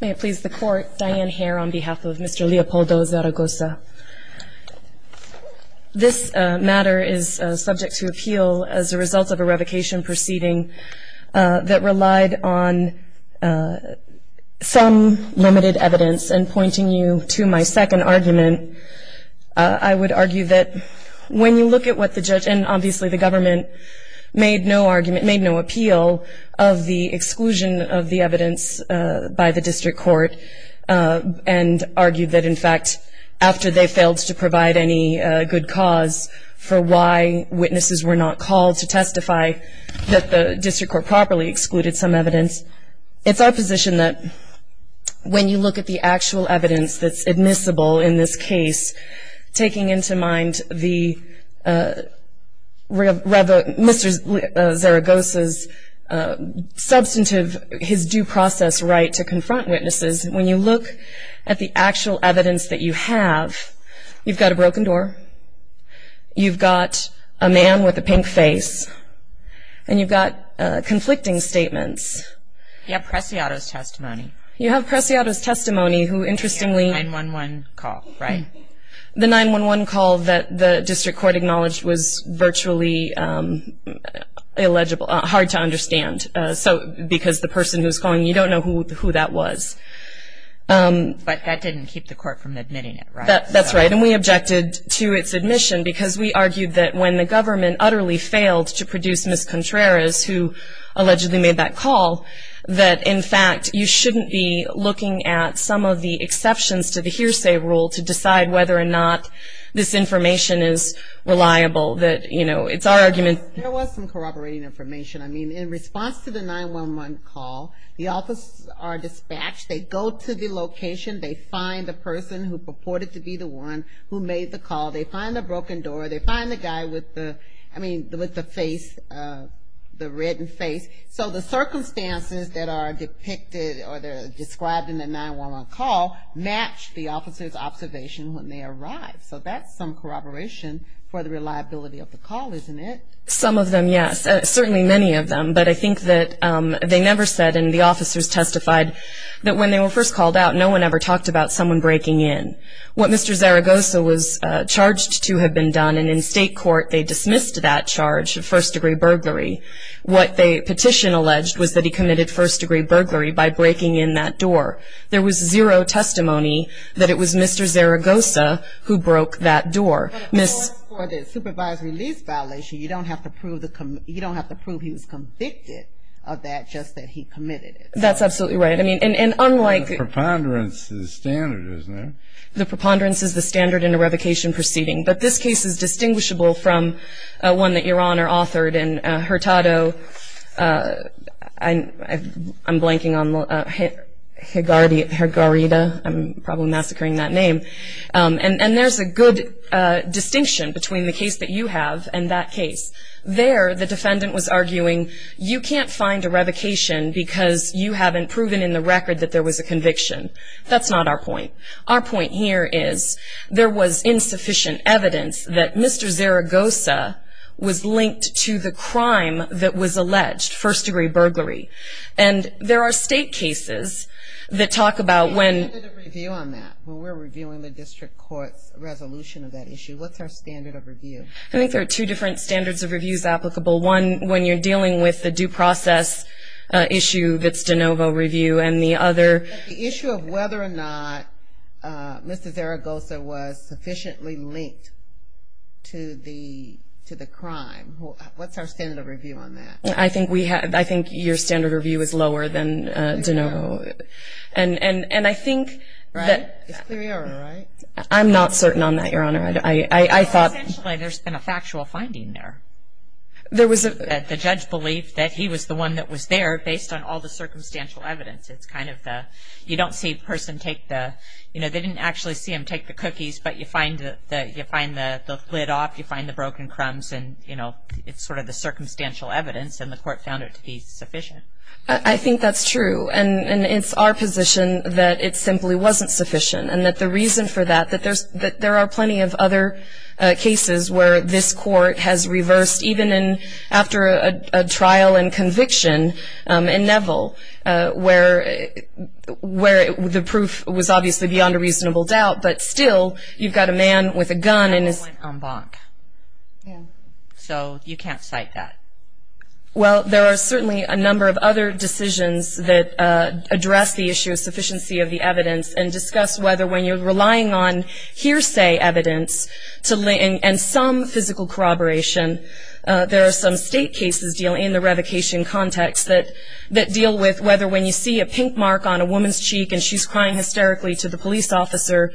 May it please the court, Diane Hare on behalf of Mr. Leopoldo Zaragoza. This matter is subject to appeal as a result of a revocation proceeding that relied on some limited evidence. And pointing you to my second argument, I would argue that when you look at what the judge, and obviously the government, made no appeal of the exclusion of the evidence by the district court and argued that in fact after they failed to provide any good cause for why witnesses were not called to testify that the district court properly excluded some evidence. It's our position that when you look at the actual evidence that's admissible in this case, taking into mind Mr. Zaragoza's substantive, his due process right to confront witnesses, when you look at the actual evidence that you have, you've got a broken door, you've got a man with a pink face, and you've got conflicting statements. You have Preciado's testimony. You have Preciado's testimony who interestingly The 9-1-1 call, right. The 9-1-1 call that the district court acknowledged was virtually illegible, hard to understand. Because the person who's calling, you don't know who that was. But that didn't keep the court from admitting it, right? That's right, and we objected to its admission because we argued that when the government utterly failed to produce Ms. Contreras, who allegedly made that call, that in fact you shouldn't be looking at some of the exceptions to the hearsay rule to decide whether or not this information is reliable. That, you know, it's our argument. There was some corroborating information. I mean, in response to the 9-1-1 call, the officers are dispatched. They go to the location. They find the person who purported to be the one who made the call. They find the broken door. They find the guy with the, I mean, with the face, the reddened face. So the circumstances that are depicted or described in the 9-1-1 call match the officers' observation when they arrive. So that's some corroboration for the reliability of the call, isn't it? Some of them, yes, certainly many of them. But I think that they never said, and the officers testified, that when they were first called out, no one ever talked about someone breaking in. What Mr. Zaragoza was charged to have been done, and in state court they dismissed that charge, of first-degree burglary. What the petition alleged was that he committed first-degree burglary by breaking in that door. There was zero testimony that it was Mr. Zaragoza who broke that door. For the supervisory lease violation, you don't have to prove he was convicted of that, just that he committed it. That's absolutely right. And unlike the preponderance is standard, isn't it? The preponderance is the standard in a revocation proceeding. But this case is distinguishable from one that Your Honor authored in Hurtado. I'm blanking on Hurtado. I'm probably massacring that name. And there's a good distinction between the case that you have and that case. There the defendant was arguing you can't find a revocation because you haven't proven in the record that there was a conviction. That's not our point. Our point here is there was insufficient evidence that Mr. Zaragoza was linked to the crime that was alleged, first-degree burglary. And there are state cases that talk about when. We did a review on that. We were reviewing the district court's resolution of that issue. What's our standard of review? I think there are two different standards of reviews applicable. One, when you're dealing with the due process issue that's de novo review, and the other. The issue of whether or not Mr. Zaragoza was sufficiently linked to the crime. What's our standard of review on that? I think your standard of review is lower than de novo. And I think that. Right. It's clear error, right? I'm not certain on that, Your Honor. I thought. Essentially, there's been a factual finding there. There was a. The judge believed that he was the one that was there based on all the circumstantial evidence. It's kind of the. You don't see a person take the. You know, they didn't actually see him take the cookies. But you find the lid off. You find the broken crumbs. And, you know, it's sort of the circumstantial evidence. And the court found it to be sufficient. I think that's true. And it's our position that it simply wasn't sufficient. And that the reason for that, that there are plenty of other cases where this court has reversed, even after a trial and conviction in Neville where the proof was obviously beyond a reasonable doubt. But still, you've got a man with a gun. And he went en banc. Yeah. So you can't cite that. Well, there are certainly a number of other decisions that address the issue of sufficiency of the evidence and discuss whether when you're relying on hearsay evidence and some physical corroboration, there are some state cases in the revocation context that deal with whether when you see a pink mark on a woman's cheek and she's crying hysterically to the police officer,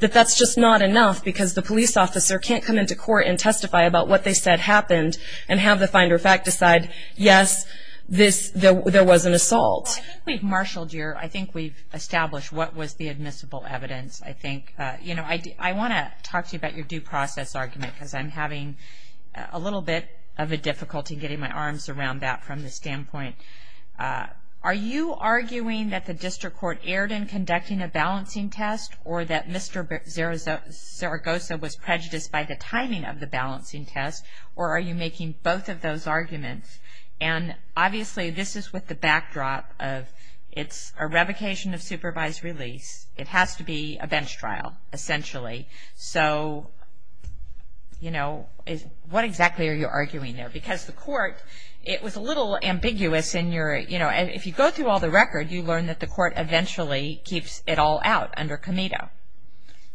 that that's just not enough because the police officer can't come into court and testify about what they said happened and have the finder of fact decide, yes, there was an assault. Well, I think we've marshaled your, I think we've established what was the admissible evidence, I think. You know, I want to talk to you about your due process argument because I'm having a little bit of a difficulty getting my arms around that from the standpoint. Are you arguing that the district court erred in conducting a balancing test or that Mr. Zaragoza was prejudiced by the timing of the balancing test? Or are you making both of those arguments? And, obviously, this is with the backdrop of it's a revocation of supervised release. It has to be a bench trial, essentially. So, you know, what exactly are you arguing there? Because the court, it was a little ambiguous in your, you know, if you go through all the record, you learn that the court eventually keeps it all out under Comito.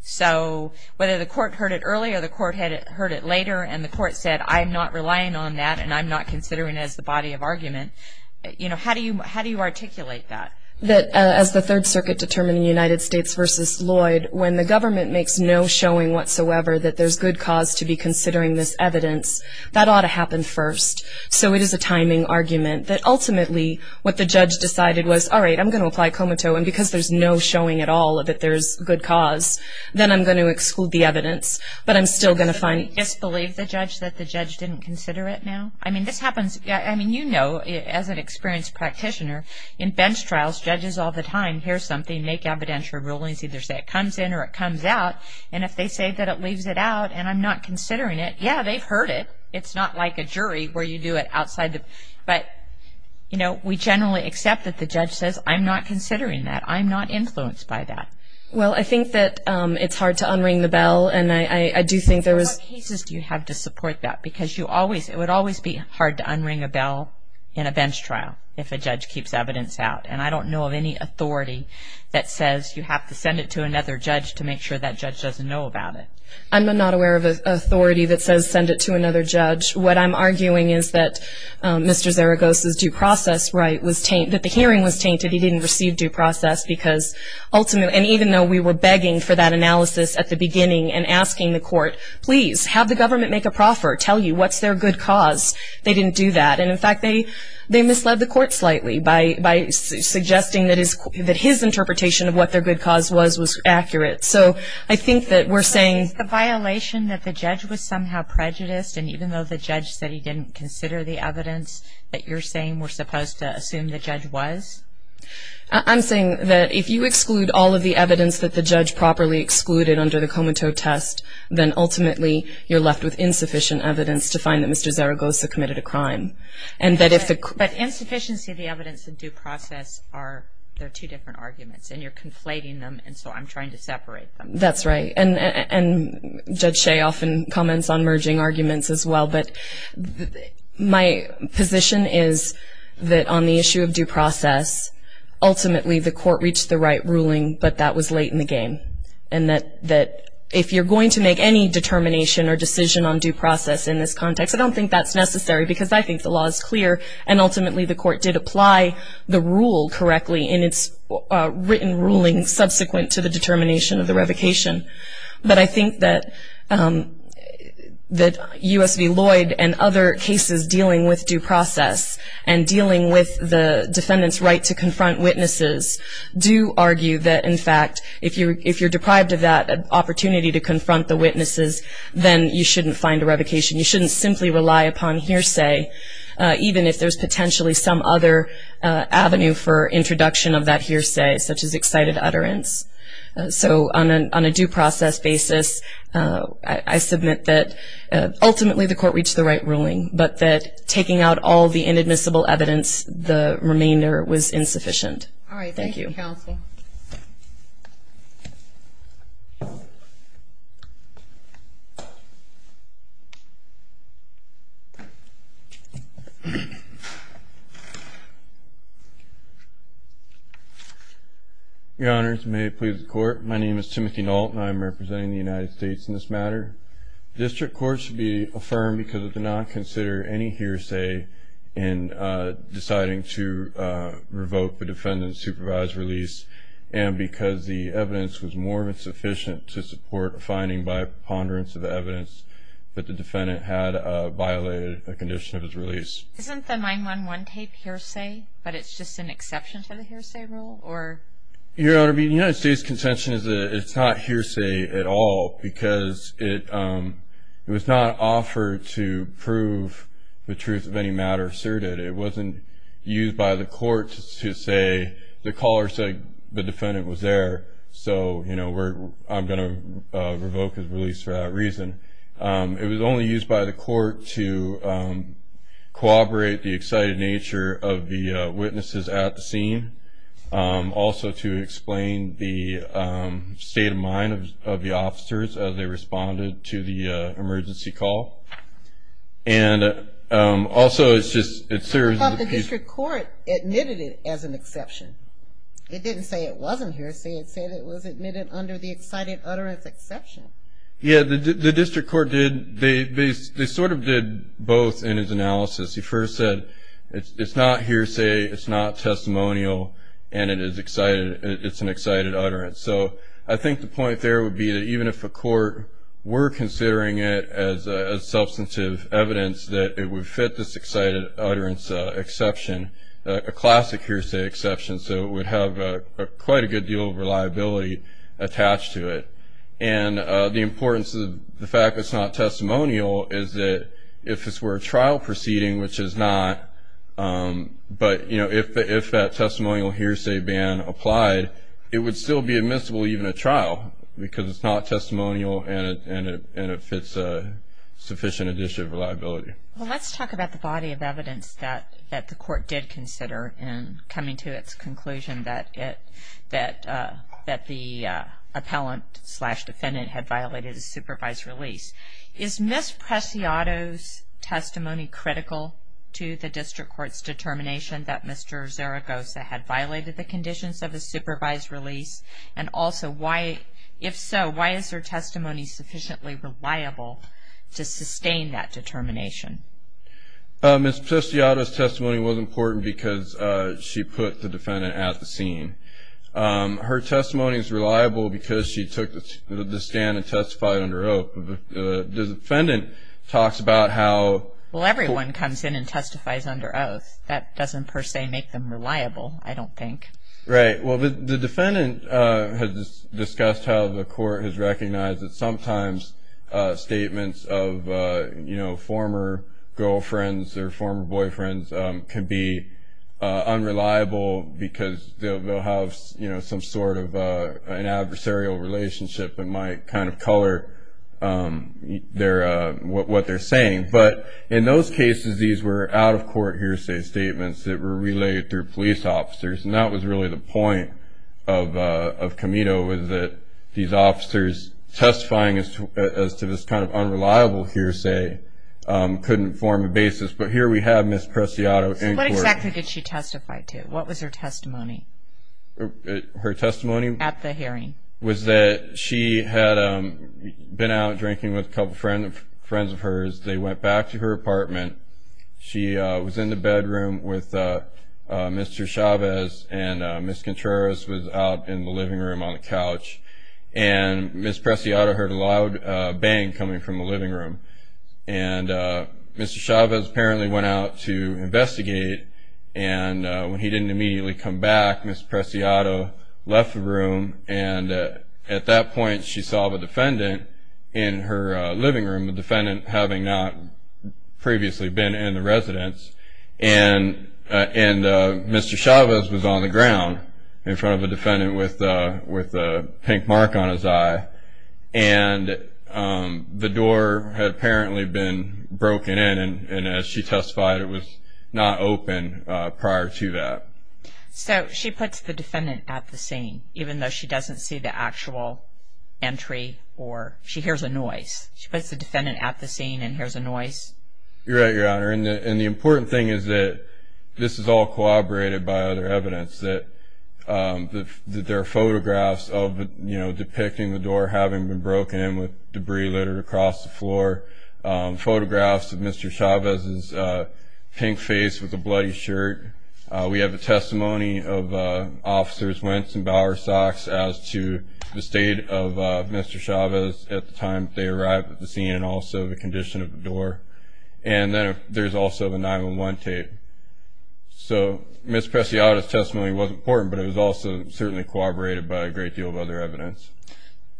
So whether the court heard it earlier, the court had heard it later, and the court said, I'm not relying on that and I'm not considering it as the body of argument. You know, how do you articulate that? That as the Third Circuit determined in the United States versus Lloyd, when the government makes no showing whatsoever that there's good cause to be considering this evidence, that ought to happen first. So it is a timing argument that ultimately what the judge decided was, all right, I'm going to apply Comito, and because there's no showing at all that there's good cause, then I'm going to exclude the evidence. But I'm still going to find it. Does it make you disbelieve the judge that the judge didn't consider it now? I mean, this happens, I mean, you know, as an experienced practitioner, in bench trials, judges all the time, hear something, make evidentiary rulings, either say it comes in or it comes out, and if they say that it leaves it out and I'm not considering it, yeah, they've heard it. It's not like a jury where you do it outside the, but, you know, we generally accept that the judge says, I'm not considering that. I'm not influenced by that. Well, I think that it's hard to unring the bell, and I do think there was... What cases do you have to support that? Because you always, it would always be hard to unring a bell in a bench trial if a judge keeps evidence out, and I don't know of any authority that says you have to send it to another judge to make sure that judge doesn't know about it. I'm not aware of an authority that says send it to another judge. What I'm arguing is that Mr. Zaragoza's due process right was tainted, that the hearing was tainted, he didn't receive due process because ultimately, and even though we were begging for that analysis at the beginning and asking the court, please have the government make a proffer, tell you what's their good cause, they didn't do that. And, in fact, they misled the court slightly by suggesting that his interpretation of what their good cause was was accurate. So I think that we're saying... It's a violation that the judge was somehow prejudiced, and even though the judge said he didn't consider the evidence that you're saying, we're supposed to assume the judge was? I'm saying that if you exclude all of the evidence that the judge properly excluded under the Comiteau test, then ultimately you're left with insufficient evidence to find that Mr. Zaragoza committed a crime. But insufficiency of the evidence and due process are two different arguments, and you're conflating them, and so I'm trying to separate them. That's right. And Judge Shea often comments on merging arguments as well, but my position is that on the issue of due process, ultimately the court reached the right ruling, but that was late in the game, and that if you're going to make any determination or decision on due process in this context, I don't think that's necessary because I think the law is clear, and ultimately the court did apply the rule correctly in its written ruling subsequent to the determination of the revocation. But I think that U.S. v. Lloyd and other cases dealing with due process and dealing with the defendant's right to confront witnesses do argue that, in fact, if you're deprived of that opportunity to confront the witnesses, then you shouldn't find a revocation. You shouldn't simply rely upon hearsay, even if there's potentially some other avenue for introduction of that hearsay, such as excited utterance. So on a due process basis, I submit that ultimately the court reached the right ruling, but that taking out all the inadmissible evidence, the remainder was insufficient. Thank you. All right. Thank you, counsel. Your Honors, may it please the Court, my name is Timothy Nault, and I am representing the United States in this matter. The district court should be affirmed because it did not consider any hearsay in deciding to revoke the defendant's supervised release, and because the evidence was more than sufficient to support a finding by ponderance of the evidence that the defendant had violated a condition of his release. Isn't the 9-1-1 tape hearsay, but it's just an exception to the hearsay rule? Your Honor, the United States' contention is that it's not hearsay at all because it was not offered to prove the truth of any matter asserted. It wasn't used by the court to say the caller said the defendant was there, so I'm going to revoke his release for that reason. It was only used by the court to corroborate the excited nature of the witnesses at the scene, also to explain the state of mind of the officers as they responded to the emergency call, and also it serves as a piece of evidence. But the district court admitted it as an exception. It didn't say it wasn't hearsay. It said it was admitted under the excited utterance exception. Yeah, the district court did. They sort of did both in his analysis. He first said it's not hearsay, it's not testimonial, and it's an excited utterance. So I think the point there would be that even if a court were considering it as substantive evidence, that it would fit this excited utterance exception, a classic hearsay exception, so it would have quite a good deal of reliability attached to it. And the importance of the fact that it's not testimonial is that if this were a trial proceeding, which it's not, but, you know, if that testimonial hearsay ban applied, it would still be admissible even at trial because it's not testimonial and it fits a sufficient addition of reliability. Well, let's talk about the body of evidence that the court did consider in coming to its conclusion that the appellant-slash-defendant had violated a supervised release. Is Ms. Preciado's testimony critical to the district court's determination that Mr. Zaragoza had violated the conditions of a supervised release? And also, if so, why is her testimony sufficiently reliable to sustain that determination? Ms. Preciado's testimony was important because she put the defendant at the scene. Her testimony is reliable because she took the stand and testified under oath. The defendant talks about how- Well, everyone comes in and testifies under oath. That doesn't per se make them reliable, I don't think. Right. Well, the defendant has discussed how the court has recognized that sometimes statements of, you know, former girlfriends or former boyfriends can be unreliable because they'll have, you know, some sort of an adversarial relationship and might kind of color what they're saying. But in those cases, these were out-of-court hearsay statements that were relayed through police officers, and that was really the point of Camino, was that these officers testifying as to this kind of unreliable hearsay couldn't form a basis. But here we have Ms. Preciado in court. So what exactly did she testify to? What was her testimony? Her testimony- At the hearing. Was that she had been out drinking with a couple friends of hers. They went back to her apartment. She was in the bedroom with Mr. Chavez, and Ms. Contreras was out in the living room on the couch, and Ms. Preciado heard a loud bang coming from the living room. And Mr. Chavez apparently went out to investigate, and when he didn't immediately come back, Ms. Preciado left the room, and at that point she saw the defendant in her living room, the defendant having not previously been in the residence, and Mr. Chavez was on the ground in front of the defendant with a pink mark on his eye, and the door had apparently been broken in, and as she testified, it was not open prior to that. So she puts the defendant at the scene, even though she doesn't see the actual entry, or she hears a noise. She puts the defendant at the scene and hears a noise. You're right, Your Honor, and the important thing is that this is all corroborated by other evidence, that there are photographs of depicting the door having been broken in with debris littered across the floor, photographs of Mr. Chavez's pink face with a bloody shirt. We have a testimony of Officers Wentz and Bowersox as to the state of Mr. Chavez at the time they arrived at the scene and also the condition of the door, and there's also the 911 tape. So Ms. Preciado's testimony was important, but it was also certainly corroborated by a great deal of other evidence.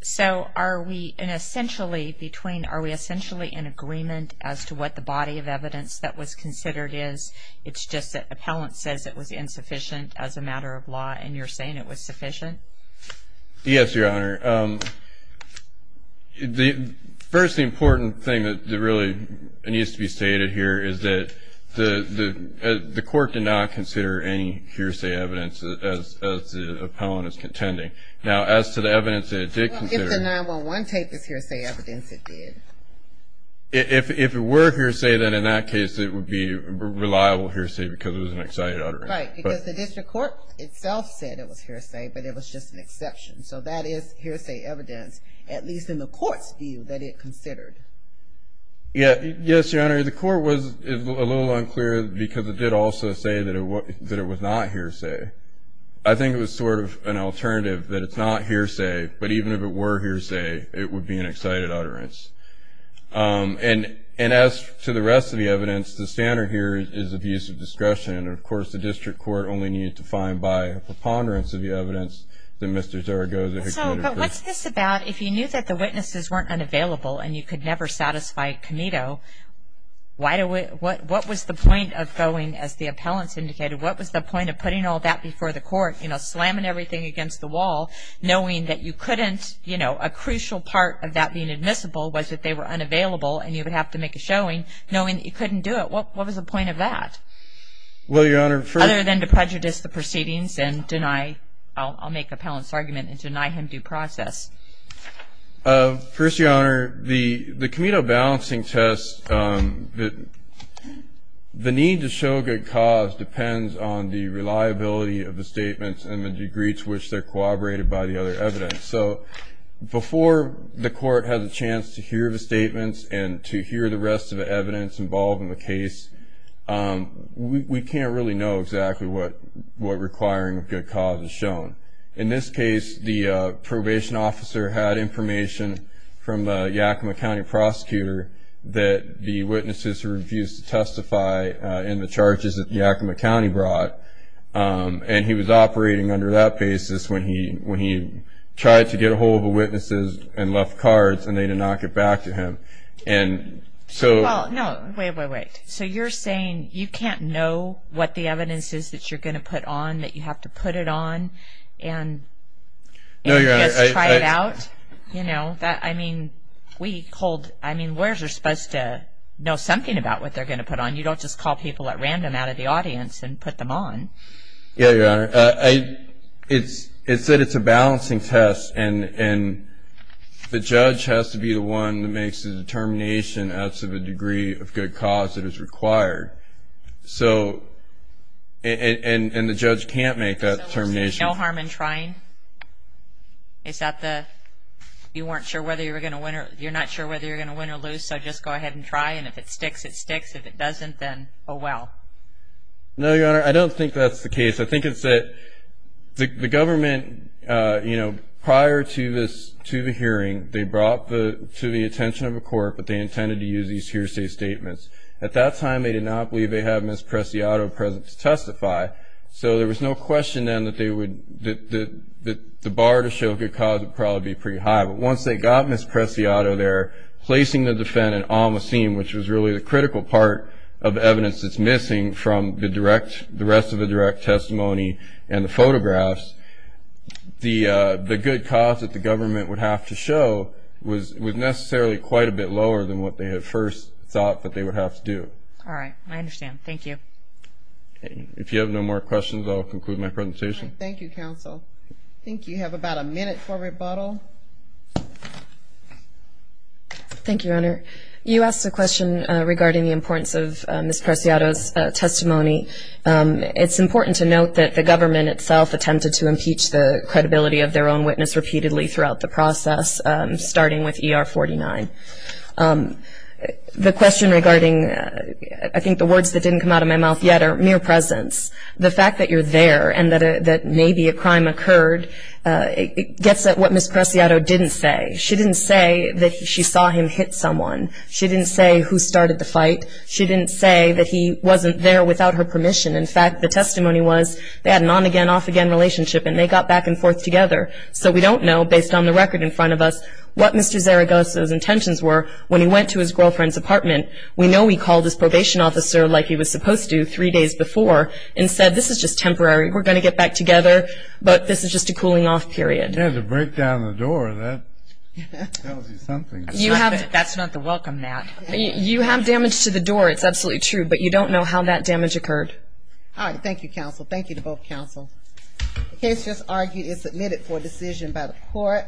So are we essentially in agreement as to what the body of evidence that was considered is? It's just that appellant says it was insufficient as a matter of law, and you're saying it was sufficient? Yes, Your Honor. First, the important thing that really needs to be stated here is that the court did not consider any hearsay evidence as the appellant is contending. Now, as to the evidence that it did consider. Well, if the 911 tape is hearsay evidence, it did. If it were hearsay, then in that case it would be reliable hearsay because it was an excited utterance. Right, because the district court itself said it was hearsay, but it was just an exception. So that is hearsay evidence, at least in the court's view, that it considered. Yes, Your Honor. The court was a little unclear because it did also say that it was not hearsay. I think it was sort of an alternative that it's not hearsay, but even if it were hearsay, it would be an excited utterance. And as to the rest of the evidence, the standard here is abuse of discretion, and, of course, the district court only needed to find by a preponderance of the evidence that Mr. Zaragoza had committed. So what's this about? If you knew that the witnesses weren't unavailable and you could never satisfy Comito, what was the point of going, as the appellants indicated, what was the point of putting all that before the court, you know, slamming everything against the wall, knowing that you couldn't, you know, a crucial part of that being admissible was that they were unavailable and you would have to make a showing, knowing that you couldn't do it. What was the point of that? Well, Your Honor, first of all. Other than to prejudice the proceedings and deny, I'll make the appellant's argument, and deny him due process. First, Your Honor, the Comito balancing test, the need to show good cause depends on the reliability of the statements and the degree to which they're corroborated by the other evidence. So before the court has a chance to hear the statements and to hear the rest of the evidence involved in the case, we can't really know exactly what requiring good cause is shown. In this case, the probation officer had information from the Yakima County prosecutor that the witnesses refused to testify in the charges that Yakima County brought, and he was operating under that basis when he tried to get a hold of the witnesses and left cards and they did not get back to him. And so... Well, no. Wait, wait, wait. So you're saying you can't know what the evidence is that you're going to put on, that you have to put it on, and just try it out? No, Your Honor, I... You know, I mean, we hold... I mean, lawyers are supposed to know something about what they're going to put on. You don't just call people at random out of the audience and put them on. Yeah, Your Honor. It's that it's a balancing test, and the judge has to be the one that makes the determination as to the degree of good cause that is required. So... And the judge can't make that determination. So there's no harm in trying? Is that the... You weren't sure whether you were going to win or... You're not sure whether you're going to win or lose, so just go ahead and try, and if it sticks, it sticks. If it doesn't, then oh, well. No, Your Honor, I don't think that's the case. I think it's that the government, you know, prior to the hearing, they brought to the attention of the court what they intended to use, these hearsay statements. At that time, they did not believe they had Ms. Preciado present to testify, so there was no question then that the bar to show good cause would probably be pretty high. But once they got Ms. Preciado there, placing the defendant on the scene, which was really the critical part of evidence that's missing from the rest of the direct testimony and the photographs, the good cause that the government would have to show was necessarily quite a bit lower than what they had first thought that they would have to do. All right. I understand. Thank you. If you have no more questions, I'll conclude my presentation. All right. Thank you, counsel. I think you have about a minute for rebuttal. Thank you, Your Honor. You asked a question regarding the importance of Ms. Preciado's testimony. It's important to note that the government itself attempted to impeach the credibility of their own witness repeatedly throughout the process, starting with ER 49. The question regarding, I think the words that didn't come out of my mouth yet are mere presence. The fact that you're there and that maybe a crime occurred gets at what Ms. Preciado didn't say. She didn't say that she saw him hit someone. She didn't say who started the fight. She didn't say that he wasn't there without her permission. In fact, the testimony was they had an on-again, off-again relationship, and they got back and forth together. So we don't know, based on the record in front of us, what Mr. Zaragoza's intentions were when he went to his girlfriend's apartment. We know he called his probation officer like he was supposed to three days before and said this is just temporary, we're going to get back together, but this is just a cooling-off period. Yeah, to break down the door, that tells you something. That's not the welcome mat. You have damage to the door, it's absolutely true, but you don't know how that damage occurred. All right. Thank you, counsel. Thank you to both counsels. The case just argued and submitted for decision by the court.